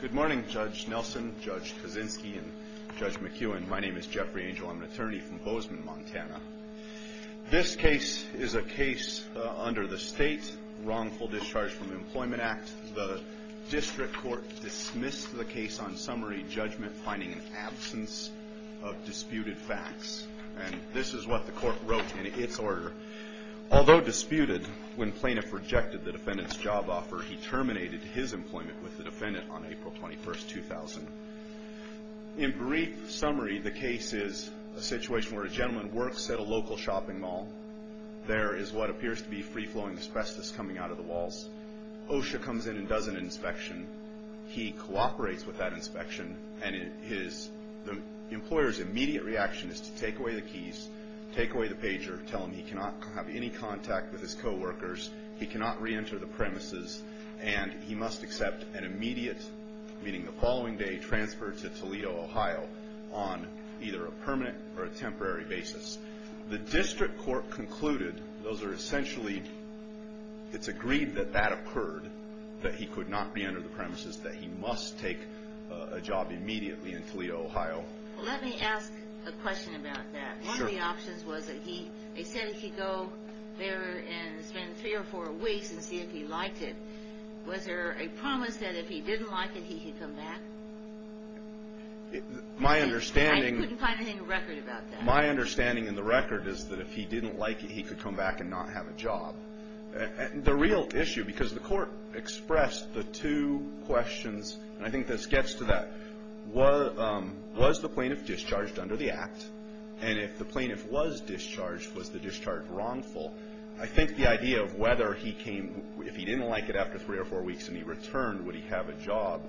Good morning Judge Nelson, Judge Kaczynski, and Judge McEwen. My name is Jeffrey Angel. I'm an attorney from Bozeman, Montana. This case is a case under the State Wrongful Discharge from Employment Act. The district court dismissed the case on summary judgment finding an absence of disputed facts. And this is what the court wrote in its order. Although disputed, when plaintiff rejected the defendant's job offer, he terminated his employment with the defendant on April 21, 2000. In brief summary, the case is a situation where a gentleman works at a local shopping mall. There is what appears to be free-flowing asbestos coming out of the walls. OSHA comes in and does an inspection. He cooperates with that inspection, and the employer's immediate reaction is to take away the keys, take away the pager, tell him he cannot have any contact with his co-workers, he cannot re-enter the premises, and he must accept an immediate, meaning the following day, that he could not re-enter the premises, that he must take a job immediately in Toledo, Ohio. Let me ask a question about that. One of the options was that he, they said he could go there and spend three or four weeks and see if he liked it. Was there a promise that if he didn't like it, he could come back? My understanding... I couldn't find anything in the record about that. My understanding in the record is that if he didn't like it, he could come back and not have a job. The real issue, because the court expressed the two questions, and I think this gets to that, was the plaintiff discharged under the Act, and if the plaintiff was discharged, was the discharge wrongful? I think the idea of whether he came, if he didn't like it after three or four weeks and he returned, would he have a job,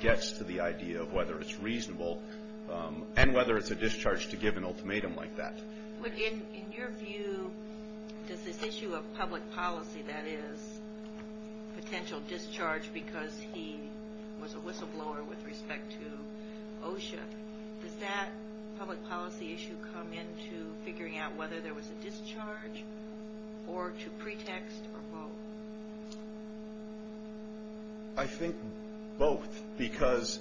gets to the idea of whether it's reasonable and whether it's a discharge to give an ultimatum like that. In your view, does this issue of public policy, that is, potential discharge because he was a whistleblower with respect to OSHA, does that public policy issue come into figuring out whether there was a discharge or to pretext or both? I think both, because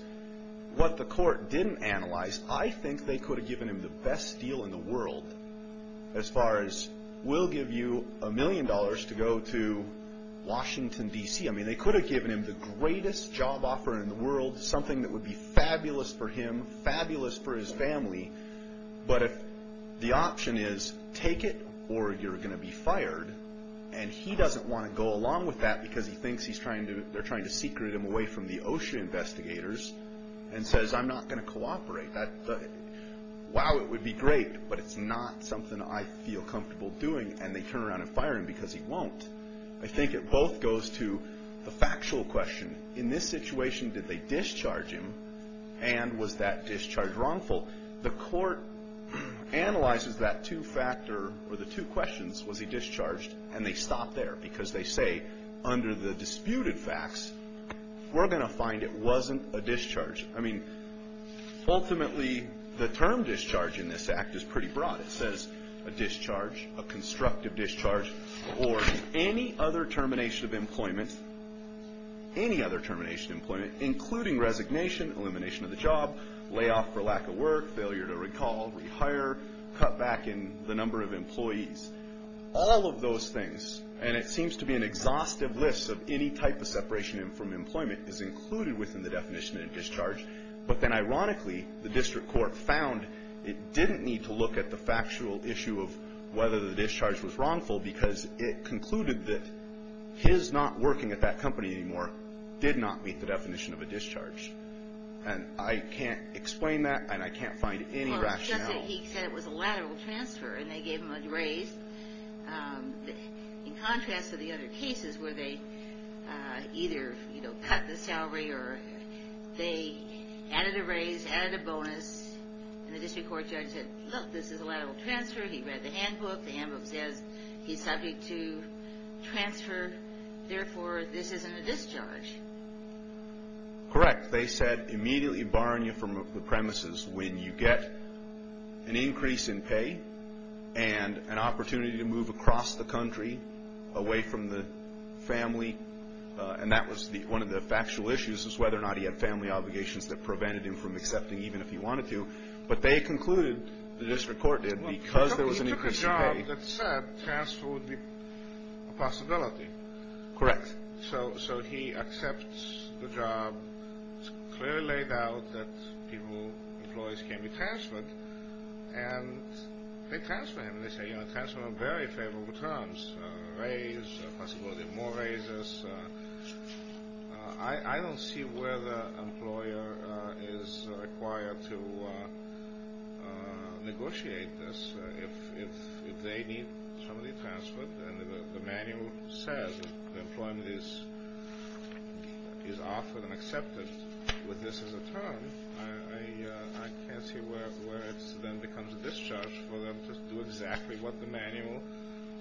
what the court didn't analyze, I think they could have given him the best deal in the world as far as we'll give you a million dollars to go to Washington, D.C. I mean, they could have given him the greatest job offer in the world, something that would be fabulous for him, fabulous for his family, but if the option is take it or you're going to be fired, and he doesn't want to go along with that because he thinks they're trying to secret him away from the OSHA investigators and says, I'm not going to cooperate, wow, it would be great, but it's not something I feel comfortable doing, and they turn around and fire him because he won't. I think it both goes to the factual question. In this situation, did they discharge him, and was that discharge wrongful? The court analyzes that two-factor, or the two questions, was he discharged, and they stop there, because they say, under the disputed facts, we're going to find it wasn't a discharge. I mean, ultimately, the term discharge in this act is pretty broad. It says a discharge, a constructive discharge, or any other termination of employment, any other termination of employment, including resignation, elimination of the job, layoff for lack of work, failure to recall, rehire, cut back in the number of employees. All of those things, and it seems to be an exhaustive list of any type of separation from employment, is included within the definition of discharge, but then, ironically, the district court found it didn't need to look at the factual issue of whether the discharge was wrongful because it concluded that his not working at that company anymore did not meet the definition of a discharge, and I can't explain that, and I can't find any rationale. Well, it's just that he said it was a lateral transfer, and they gave him a raise. In contrast to the other cases where they either cut the salary or they added a raise, added a bonus, and the district court judge said, look, this is a lateral transfer. He read the handbook. The handbook says he's subject to transfer. Therefore, this isn't a discharge. Correct. They said immediately barring you from the premises when you get an increase in pay and an opportunity to move across the country away from the family, and that was one of the factual issues is whether or not he had family obligations that prevented him from accepting even if he wanted to, but they concluded, the district court did, because there was an increase in pay. He took a job that said transfer would be a possibility. Correct. So he accepts the job. It's clearly laid out that people, employees can be transferred, and they transfer him. They say, you know, transfer on very favorable terms, a raise, a possibility of more raises. I don't see where the employer is required to negotiate this. If they need somebody transferred and the manual says employment is offered and accepted with this as a term, I can't see where it then becomes a discharge for them to do exactly what the manual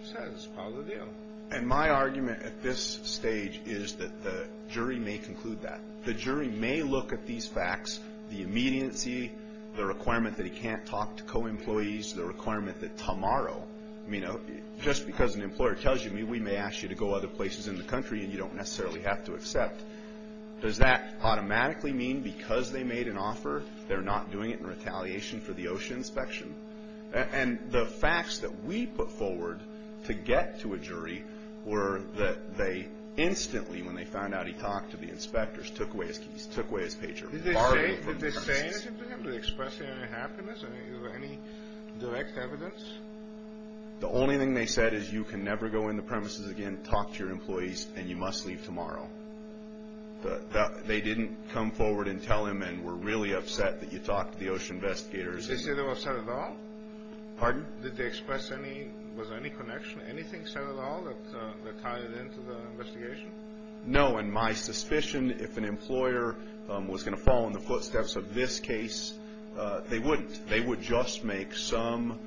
says is part of the deal. And my argument at this stage is that the jury may conclude that. The jury may look at these facts, the immediacy, the requirement that he can't talk to co-employees, the requirement that tomorrow, you know, just because an employer tells you, we may ask you to go other places in the country and you don't necessarily have to accept. Does that automatically mean because they made an offer they're not doing it in retaliation for the OSHA inspection? And the facts that we put forward to get to a jury were that they instantly, when they found out he talked to the inspectors, took away his keys, took away his pager. Did they say anything to him? Did they express any happiness? I mean, was there any direct evidence? The only thing they said is you can never go in the premises again, talk to your employees, and you must leave tomorrow. They didn't come forward and tell him and were really upset that you talked to the OSHA investigators. Did they say they were upset at all? Pardon? Did they express any, was there any connection, anything said at all that tied into the investigation? No, and my suspicion, if an employer was going to follow in the footsteps of this case, they wouldn't. They would just make some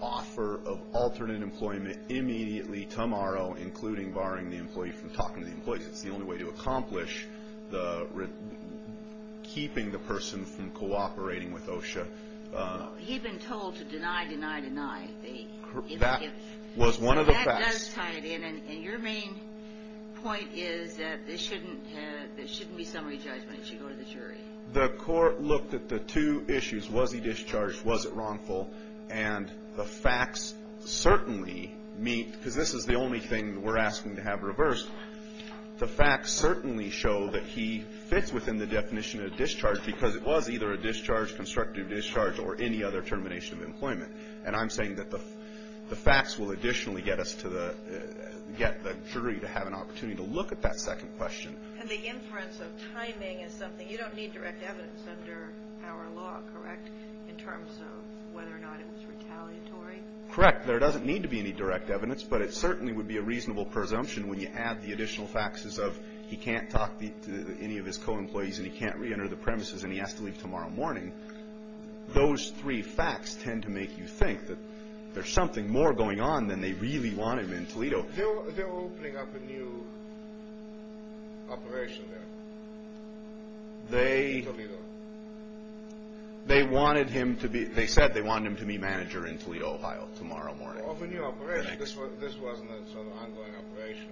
offer of alternate employment immediately tomorrow, including barring the employee from talking to the employees. It's the only way to accomplish keeping the person from cooperating with OSHA. He'd been told to deny, deny, deny. That was one of the facts. That does tie it in, and your main point is that there shouldn't be summary judgment if you go to the jury. The court looked at the two issues. Was he discharged? Was it wrongful? And the facts certainly meet, because this is the only thing we're asking to have reversed, the facts certainly show that he fits within the definition of discharge because it was either a discharge, constructive discharge, or any other termination of employment. And I'm saying that the facts will additionally get us to the, get the jury to have an opportunity to look at that second question. And the inference of timing is something, you don't need direct evidence under our law, correct, in terms of whether or not it was retaliatory? Correct. There doesn't need to be any direct evidence, but it certainly would be a reasonable presumption when you add the additional faxes of he can't talk to any of his co-employees and he can't reenter the premises and he has to leave tomorrow morning. Those three facts tend to make you think that there's something more going on than they really wanted in Toledo. They're opening up a new operation there. They wanted him to be, they said they wanted him to be manager in Toledo, Ohio tomorrow morning. They're opening up a new operation. This wasn't a sort of ongoing operation.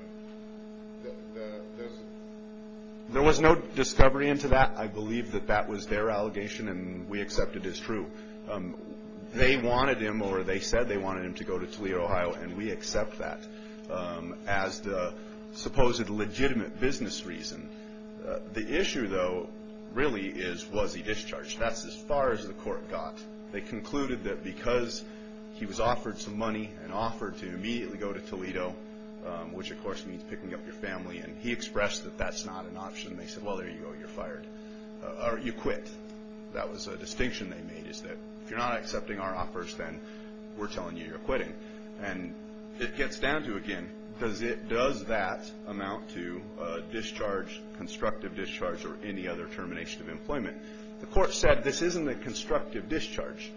There was no discovery into that. I believe that that was their allegation and we accept it as true. They wanted him or they said they wanted him to go to Toledo, Ohio, and we accept that as the supposed legitimate business reason. The issue, though, really is was he discharged. That's as far as the court got. They concluded that because he was offered some money and offered to immediately go to Toledo, which of course means picking up your family, and he expressed that that's not an option. They said, well, there you go. You're fired. Or you quit. That was a distinction they made is that if you're not accepting our offers, then we're telling you you're quitting. And it gets down to, again, does that amount to discharge, constructive discharge, or any other termination of employment? The court said this isn't a constructive discharge.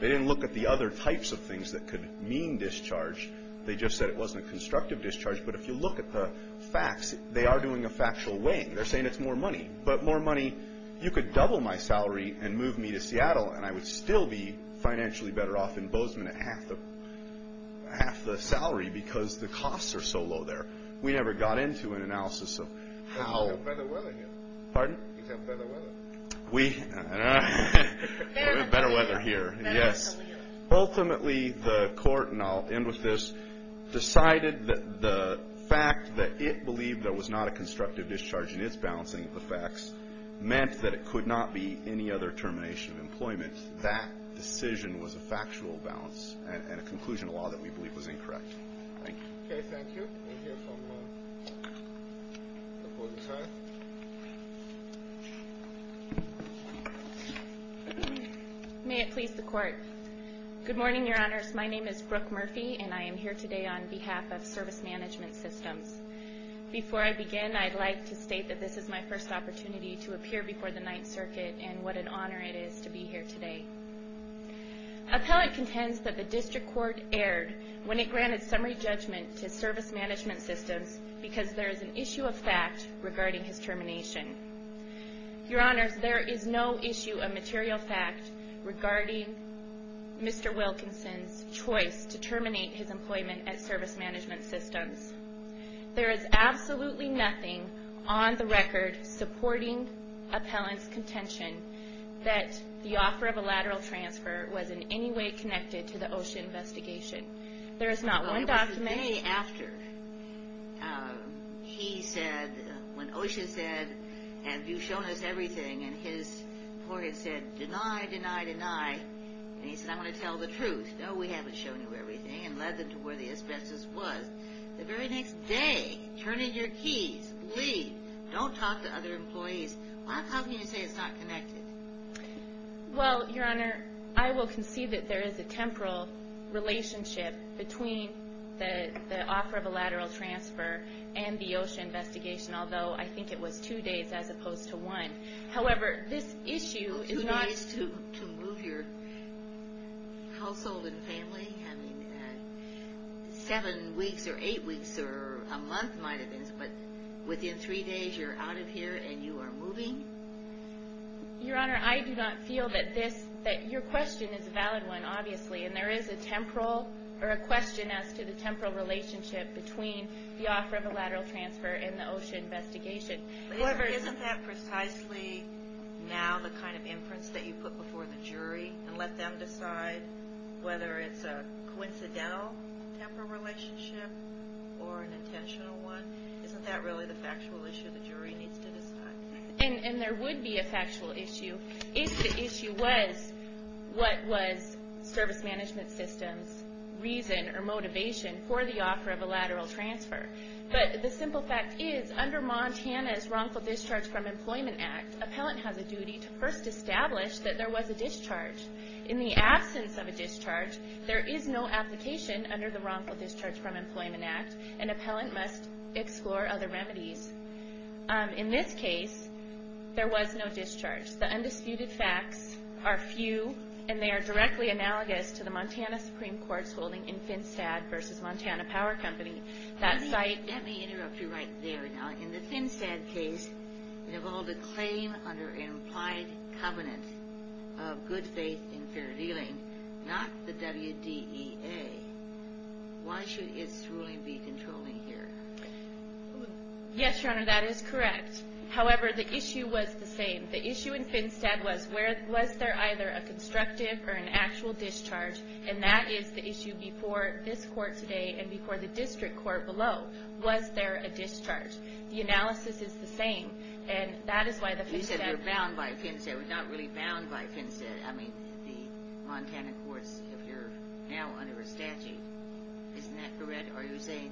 They didn't look at the other types of things that could mean discharge. They just said it wasn't a constructive discharge. But if you look at the facts, they are doing a factual weighing. They're saying it's more money. But more money, you could double my salary and move me to Seattle, and I would still be financially better off in Bozeman at half the salary because the costs are so low there. We never got into an analysis of how. You have better weather here. Pardon? You have better weather. We have better weather here, yes. Ultimately, the court, and I'll end with this, decided that the fact that it believed there was not a constructive discharge in its balancing of the facts meant that it could not be any other termination of employment. That decision was a factual balance and a conclusion of law that we believe was incorrect. Thank you. Okay, thank you. We'll hear from the public side. May it please the Court. Good morning, Your Honors. My name is Brooke Murphy, and I am here today on behalf of Service Management Systems. Before I begin, I'd like to state that this is my first opportunity to appear before the Ninth Circuit, and what an honor it is to be here today. Appellant contends that the District Court erred when it granted summary judgment to Service Management Systems because there is an issue of fact regarding his termination. Your Honors, there is no issue of material fact regarding Mr. Wilkinson's choice to terminate his employment at Service Management Systems. There is absolutely nothing on the record supporting Appellant's contention that the offer of a lateral transfer was in any way connected to the OSHA investigation. There is not one document. Well, it was the day after he said, when OSHA said, have you shown us everything, and his court had said, deny, deny, deny, and he said, I want to tell the truth. No, we haven't shown you everything, and led them to where the asbestos was. The very next day, turn in your keys, leave, don't talk to other employees. How can you say it's not connected? Well, Your Honor, I will concede that there is a temporal relationship between the offer of a lateral transfer and the OSHA investigation, although I think it was two days as opposed to one. However, this issue is not... Two days to move your household and family? I mean, seven weeks or eight weeks or a month might have been, but within three days, you're out of here and you are moving? Your Honor, I do not feel that this... Your question is a valid one, obviously, and there is a question as to the temporal relationship between the offer of a lateral transfer and the OSHA investigation. Isn't that precisely now the kind of inference that you put before the jury and let them decide whether it's a coincidental temporal relationship or an intentional one? Isn't that really the factual issue the jury needs to decide? And there would be a factual issue if the issue was what was Service Management System's reason or motivation for the offer of a lateral transfer. But the simple fact is, under Montana's Wrongful Discharge from Employment Act, an appellant has a duty to first establish that there was a discharge. In the absence of a discharge, there is no application under the Wrongful Discharge from Employment Act. An appellant must explore other remedies. In this case, there was no discharge. The undisputed facts are few, and they are directly analogous to the Montana Supreme Court's holding in Finstead v. Montana Power Company. Let me interrupt you right there. In the Finstead case, it involved a claim under an implied covenant of good faith and fair dealing, not the WDEA. Why should its ruling be controlling here? Yes, Your Honor, that is correct. However, the issue was the same. The issue in Finstead was, was there either a constructive or an actual discharge, and that is the issue before this court today and before the district court below. Was there a discharge? The analysis is the same, and that is why the Finstead... You said you're bound by Finstead. We're not really bound by Finstead. I mean, the Montana courts, if you're now under a statute, isn't that correct? Are you saying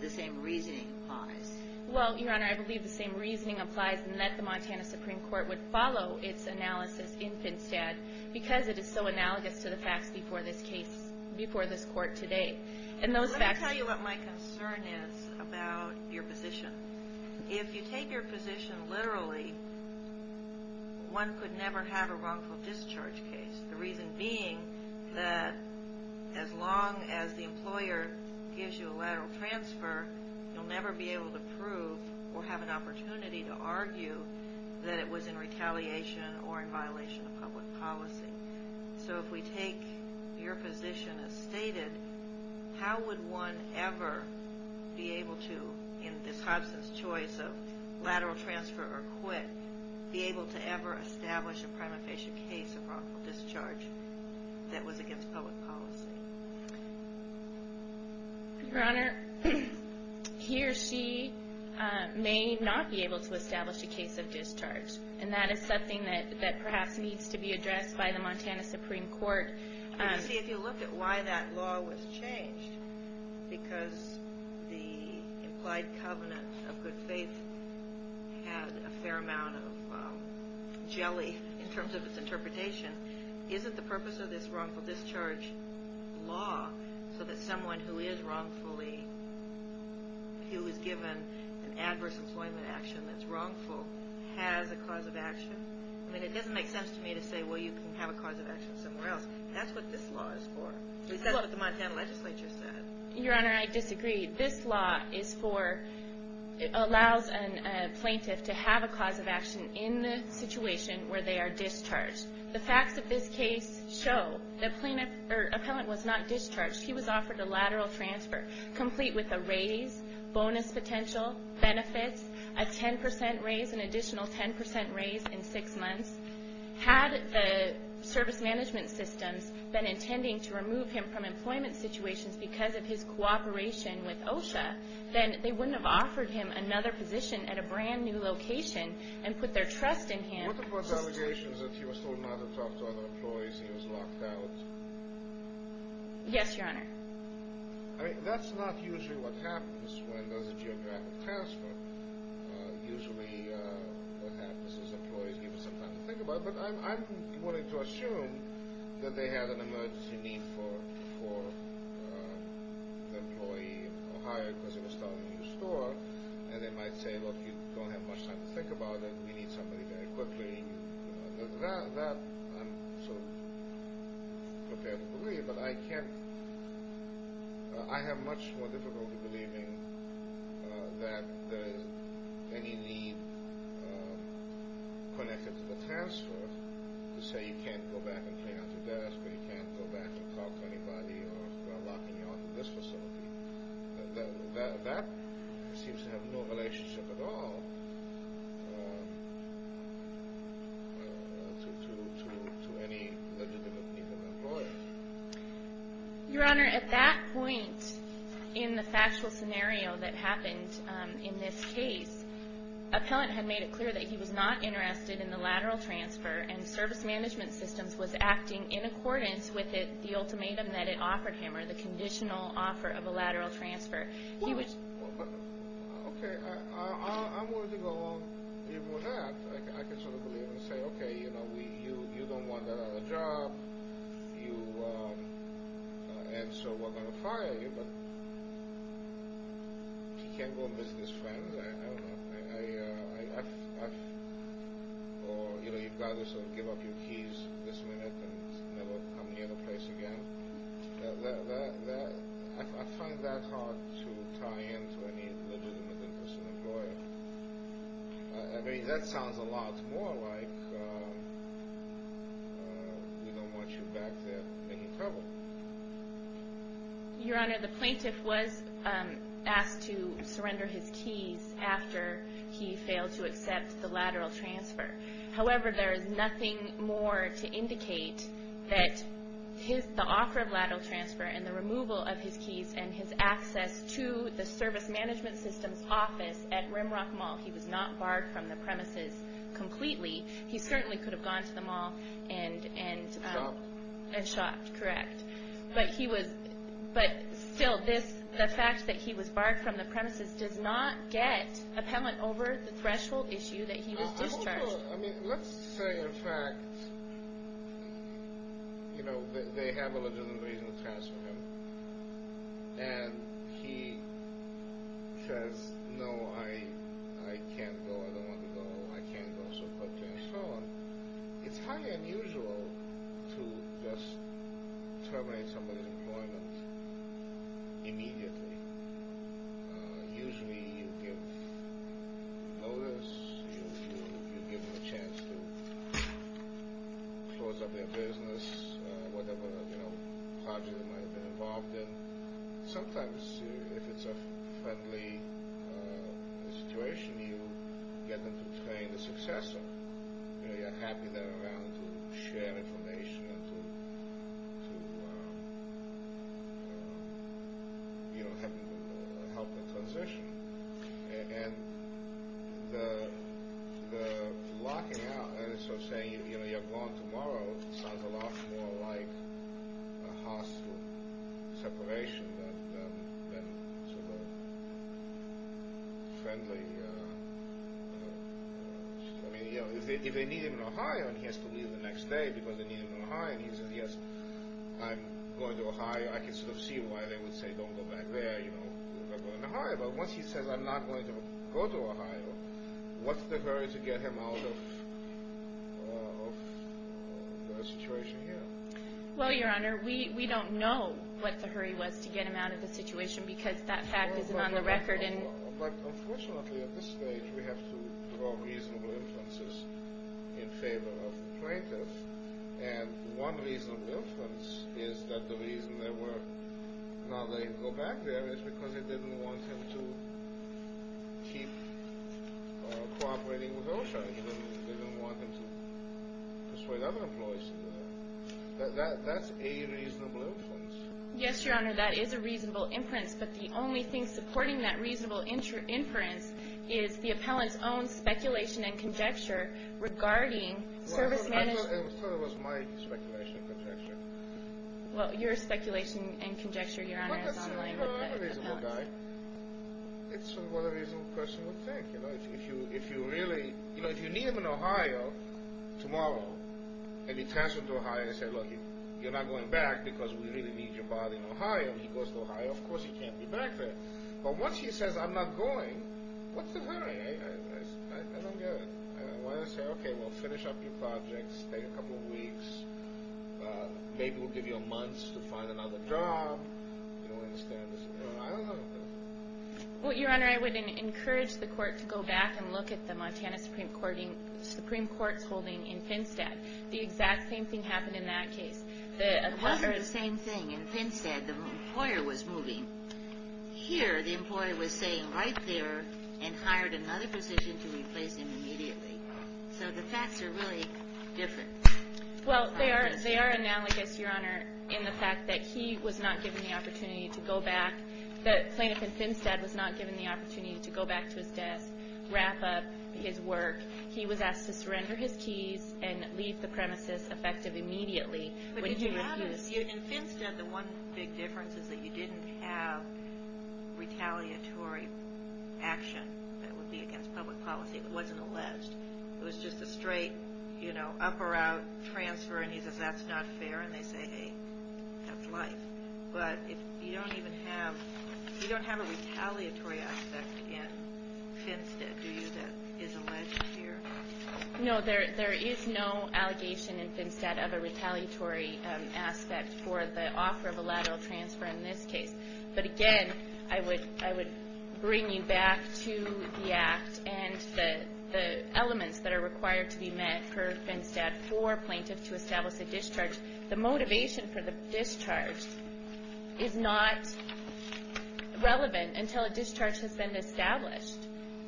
the same reasoning applies? Well, Your Honor, I believe the same reasoning applies in that the Montana Supreme Court would follow its analysis in Finstead because it is so analogous to the facts before this case, before this court today. And those facts... Let me tell you what my concern is about your position. If you take your position literally, one could never have a wrongful discharge case, the reason being that as long as the employer gives you a lateral transfer, you'll never be able to prove or have an opportunity to argue that it was in retaliation or in violation of public policy. So if we take your position as stated, how would one ever be able to, in this Hobson's choice of lateral transfer or quit, be able to ever establish a prima facie case of wrongful discharge that was against public policy? Your Honor, he or she may not be able to establish a case of discharge, and that is something that perhaps needs to be addressed by the Montana Supreme Court. You see, if you look at why that law was changed, because the implied covenant of good faith had a fair amount of jelly in terms of its interpretation, isn't the purpose of this wrongful discharge law so that someone who is wrongfully... who is given an adverse employment action that's wrongful has a cause of action? I mean, it doesn't make sense to me to say, well, you can have a cause of action somewhere else. That's what this law is for. Because that's what the Montana legislature said. Your Honor, I disagree. This law is for... allows a plaintiff to have a cause of action in the situation where they are discharged. The facts of this case show the plaintiff or appellant was not discharged. He was offered a lateral transfer, complete with a raise, bonus potential, benefits, a 10% raise, an additional 10% raise in six months. Had the service management systems been intending to remove him from employment situations because of his cooperation with OSHA, then they wouldn't have offered him another position at a brand-new location and put their trust in him. What about allegations that he was told not to talk to other employees and he was locked out? Yes, Your Honor. I mean, that's not usually what happens when there's a geographic transfer. Usually what happens is employees give him some time to think about it. But I'm willing to assume that they had an emergency need for the employee or hired because he was stuck in a new store, and they might say, look, you don't have much time to think about it, we need somebody very quickly. That I'm sort of prepared to believe, but I can't... I have much more difficulty believing that there's any need connected to the transfer to say you can't go back and clean out the desk or you can't go back and talk to anybody or lock anyone in this facility. That seems to have no relationship at all to any legitimate need of an employer. Your Honor, at that point, in the factual scenario that happened in this case, appellant had made it clear that he was not interested in the lateral transfer and service management systems was acting in accordance with the ultimatum that it offered him or the conditional offer of a lateral transfer. Well, okay, I'm willing to go along even with that. I can sort of believe and say, okay, you know, you don't want a job, and so we're going to fire you, but he can't go and visit his friends. I don't know. Or, you know, you've got to sort of give up your keys this minute and never come here in the place again. I find that hard to tie in to any legitimate interest of an employer. I mean, that sounds a lot more like we don't want you back there making trouble. Your Honor, the plaintiff was asked to surrender his keys after he failed to accept the lateral transfer. However, there is nothing more to indicate that the offer of lateral transfer and the removal of his keys and his access to the service management systems office at Rimrock Mall, he was not barred from the premises completely. He certainly could have gone to the mall and shopped. Correct. But still, the fact that he was barred from the premises does not get appellant over the threshold issue that he was discharged. Hold on. Let's say, in fact, they have a legitimate reason to transfer him, and he says, no, I can't go. I don't want to go. I can't go. So, okay, and so on. It's highly unusual to just terminate somebody's employment immediately. Usually, you give notice, you give them a chance to close up their business, whatever project they might have been involved in. Sometimes, if it's a friendly situation, you get them to train the successor. You know, you're happy they're around to share information and to, you know, help the transition. And the locking out, so saying, you know, you're gone tomorrow, sounds a lot more like a hostile separation than sort of friendly. I mean, you know, if they need him in Ohio and he has to leave the next day because they need him in Ohio and he says, yes, I'm going to Ohio, I can sort of see why they would say, don't go back there, you know, but once he says, I'm not going to go to Ohio, what's the hurry to get him out of the situation here? Well, Your Honor, we don't know what the hurry was to get him out of the situation because that fact isn't on the record. But unfortunately, at this stage, we have to draw reasonable inferences in favor of the plaintiff. And one reasonable inference is that the reason they were not letting him go back there is because they didn't want him to keep cooperating with OSHA and they didn't want him to persuade other employees to do that. That's a reasonable inference. Yes, Your Honor, that is a reasonable inference, but the only thing supporting that reasonable inference is the appellant's own speculation and conjecture regarding service management. I thought it was my speculation and conjecture. Well, your speculation and conjecture, Your Honor, is on the line with the appellant. But that's a reasonable guy. It's what a reasonable person would think. You know, if you really, you know, if you need him in Ohio tomorrow and he transfers to Ohio and you say, look, you're not going back because we really need your body in Ohio, he goes to Ohio, of course he can't be back there. But once he says, I'm not going, what's the hurry? I don't get it. Why not say, okay, we'll finish up your projects, take a couple weeks, maybe we'll give you a month to find another job. You don't understand this. I don't know. Well, Your Honor, I would encourage the court to go back and look at the Montana Supreme Court's holding in Pinstead. The exact same thing happened in that case. It was the same thing in Pinstead. The employer was moving. Here, the employer was staying right there and hired another position to replace him immediately. So the facts are really different. Well, they are analogous, Your Honor, in the fact that he was not given the opportunity to go back. The plaintiff in Pinstead was not given the opportunity to go back to his desk, wrap up his work. He was asked to surrender his keys and leave the premises effective immediately. In Pinstead, the one big difference is that you didn't have retaliatory action that would be against public policy. It wasn't alleged. It was just a straight up-or-out transfer, and he says, that's not fair, and they say, hey, that's life. But you don't have a retaliatory aspect in Pinstead, No, there is no allegation in Pinstead of a retaliatory aspect for the offer of a lateral transfer in this case. But again, I would bring you back to the Act and the elements that are required to be met for Pinstead for plaintiffs to establish a discharge. The motivation for the discharge is not relevant until a discharge has been established,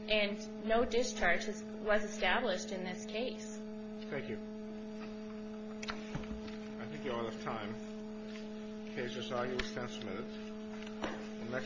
and no discharge was established in this case. Thank you.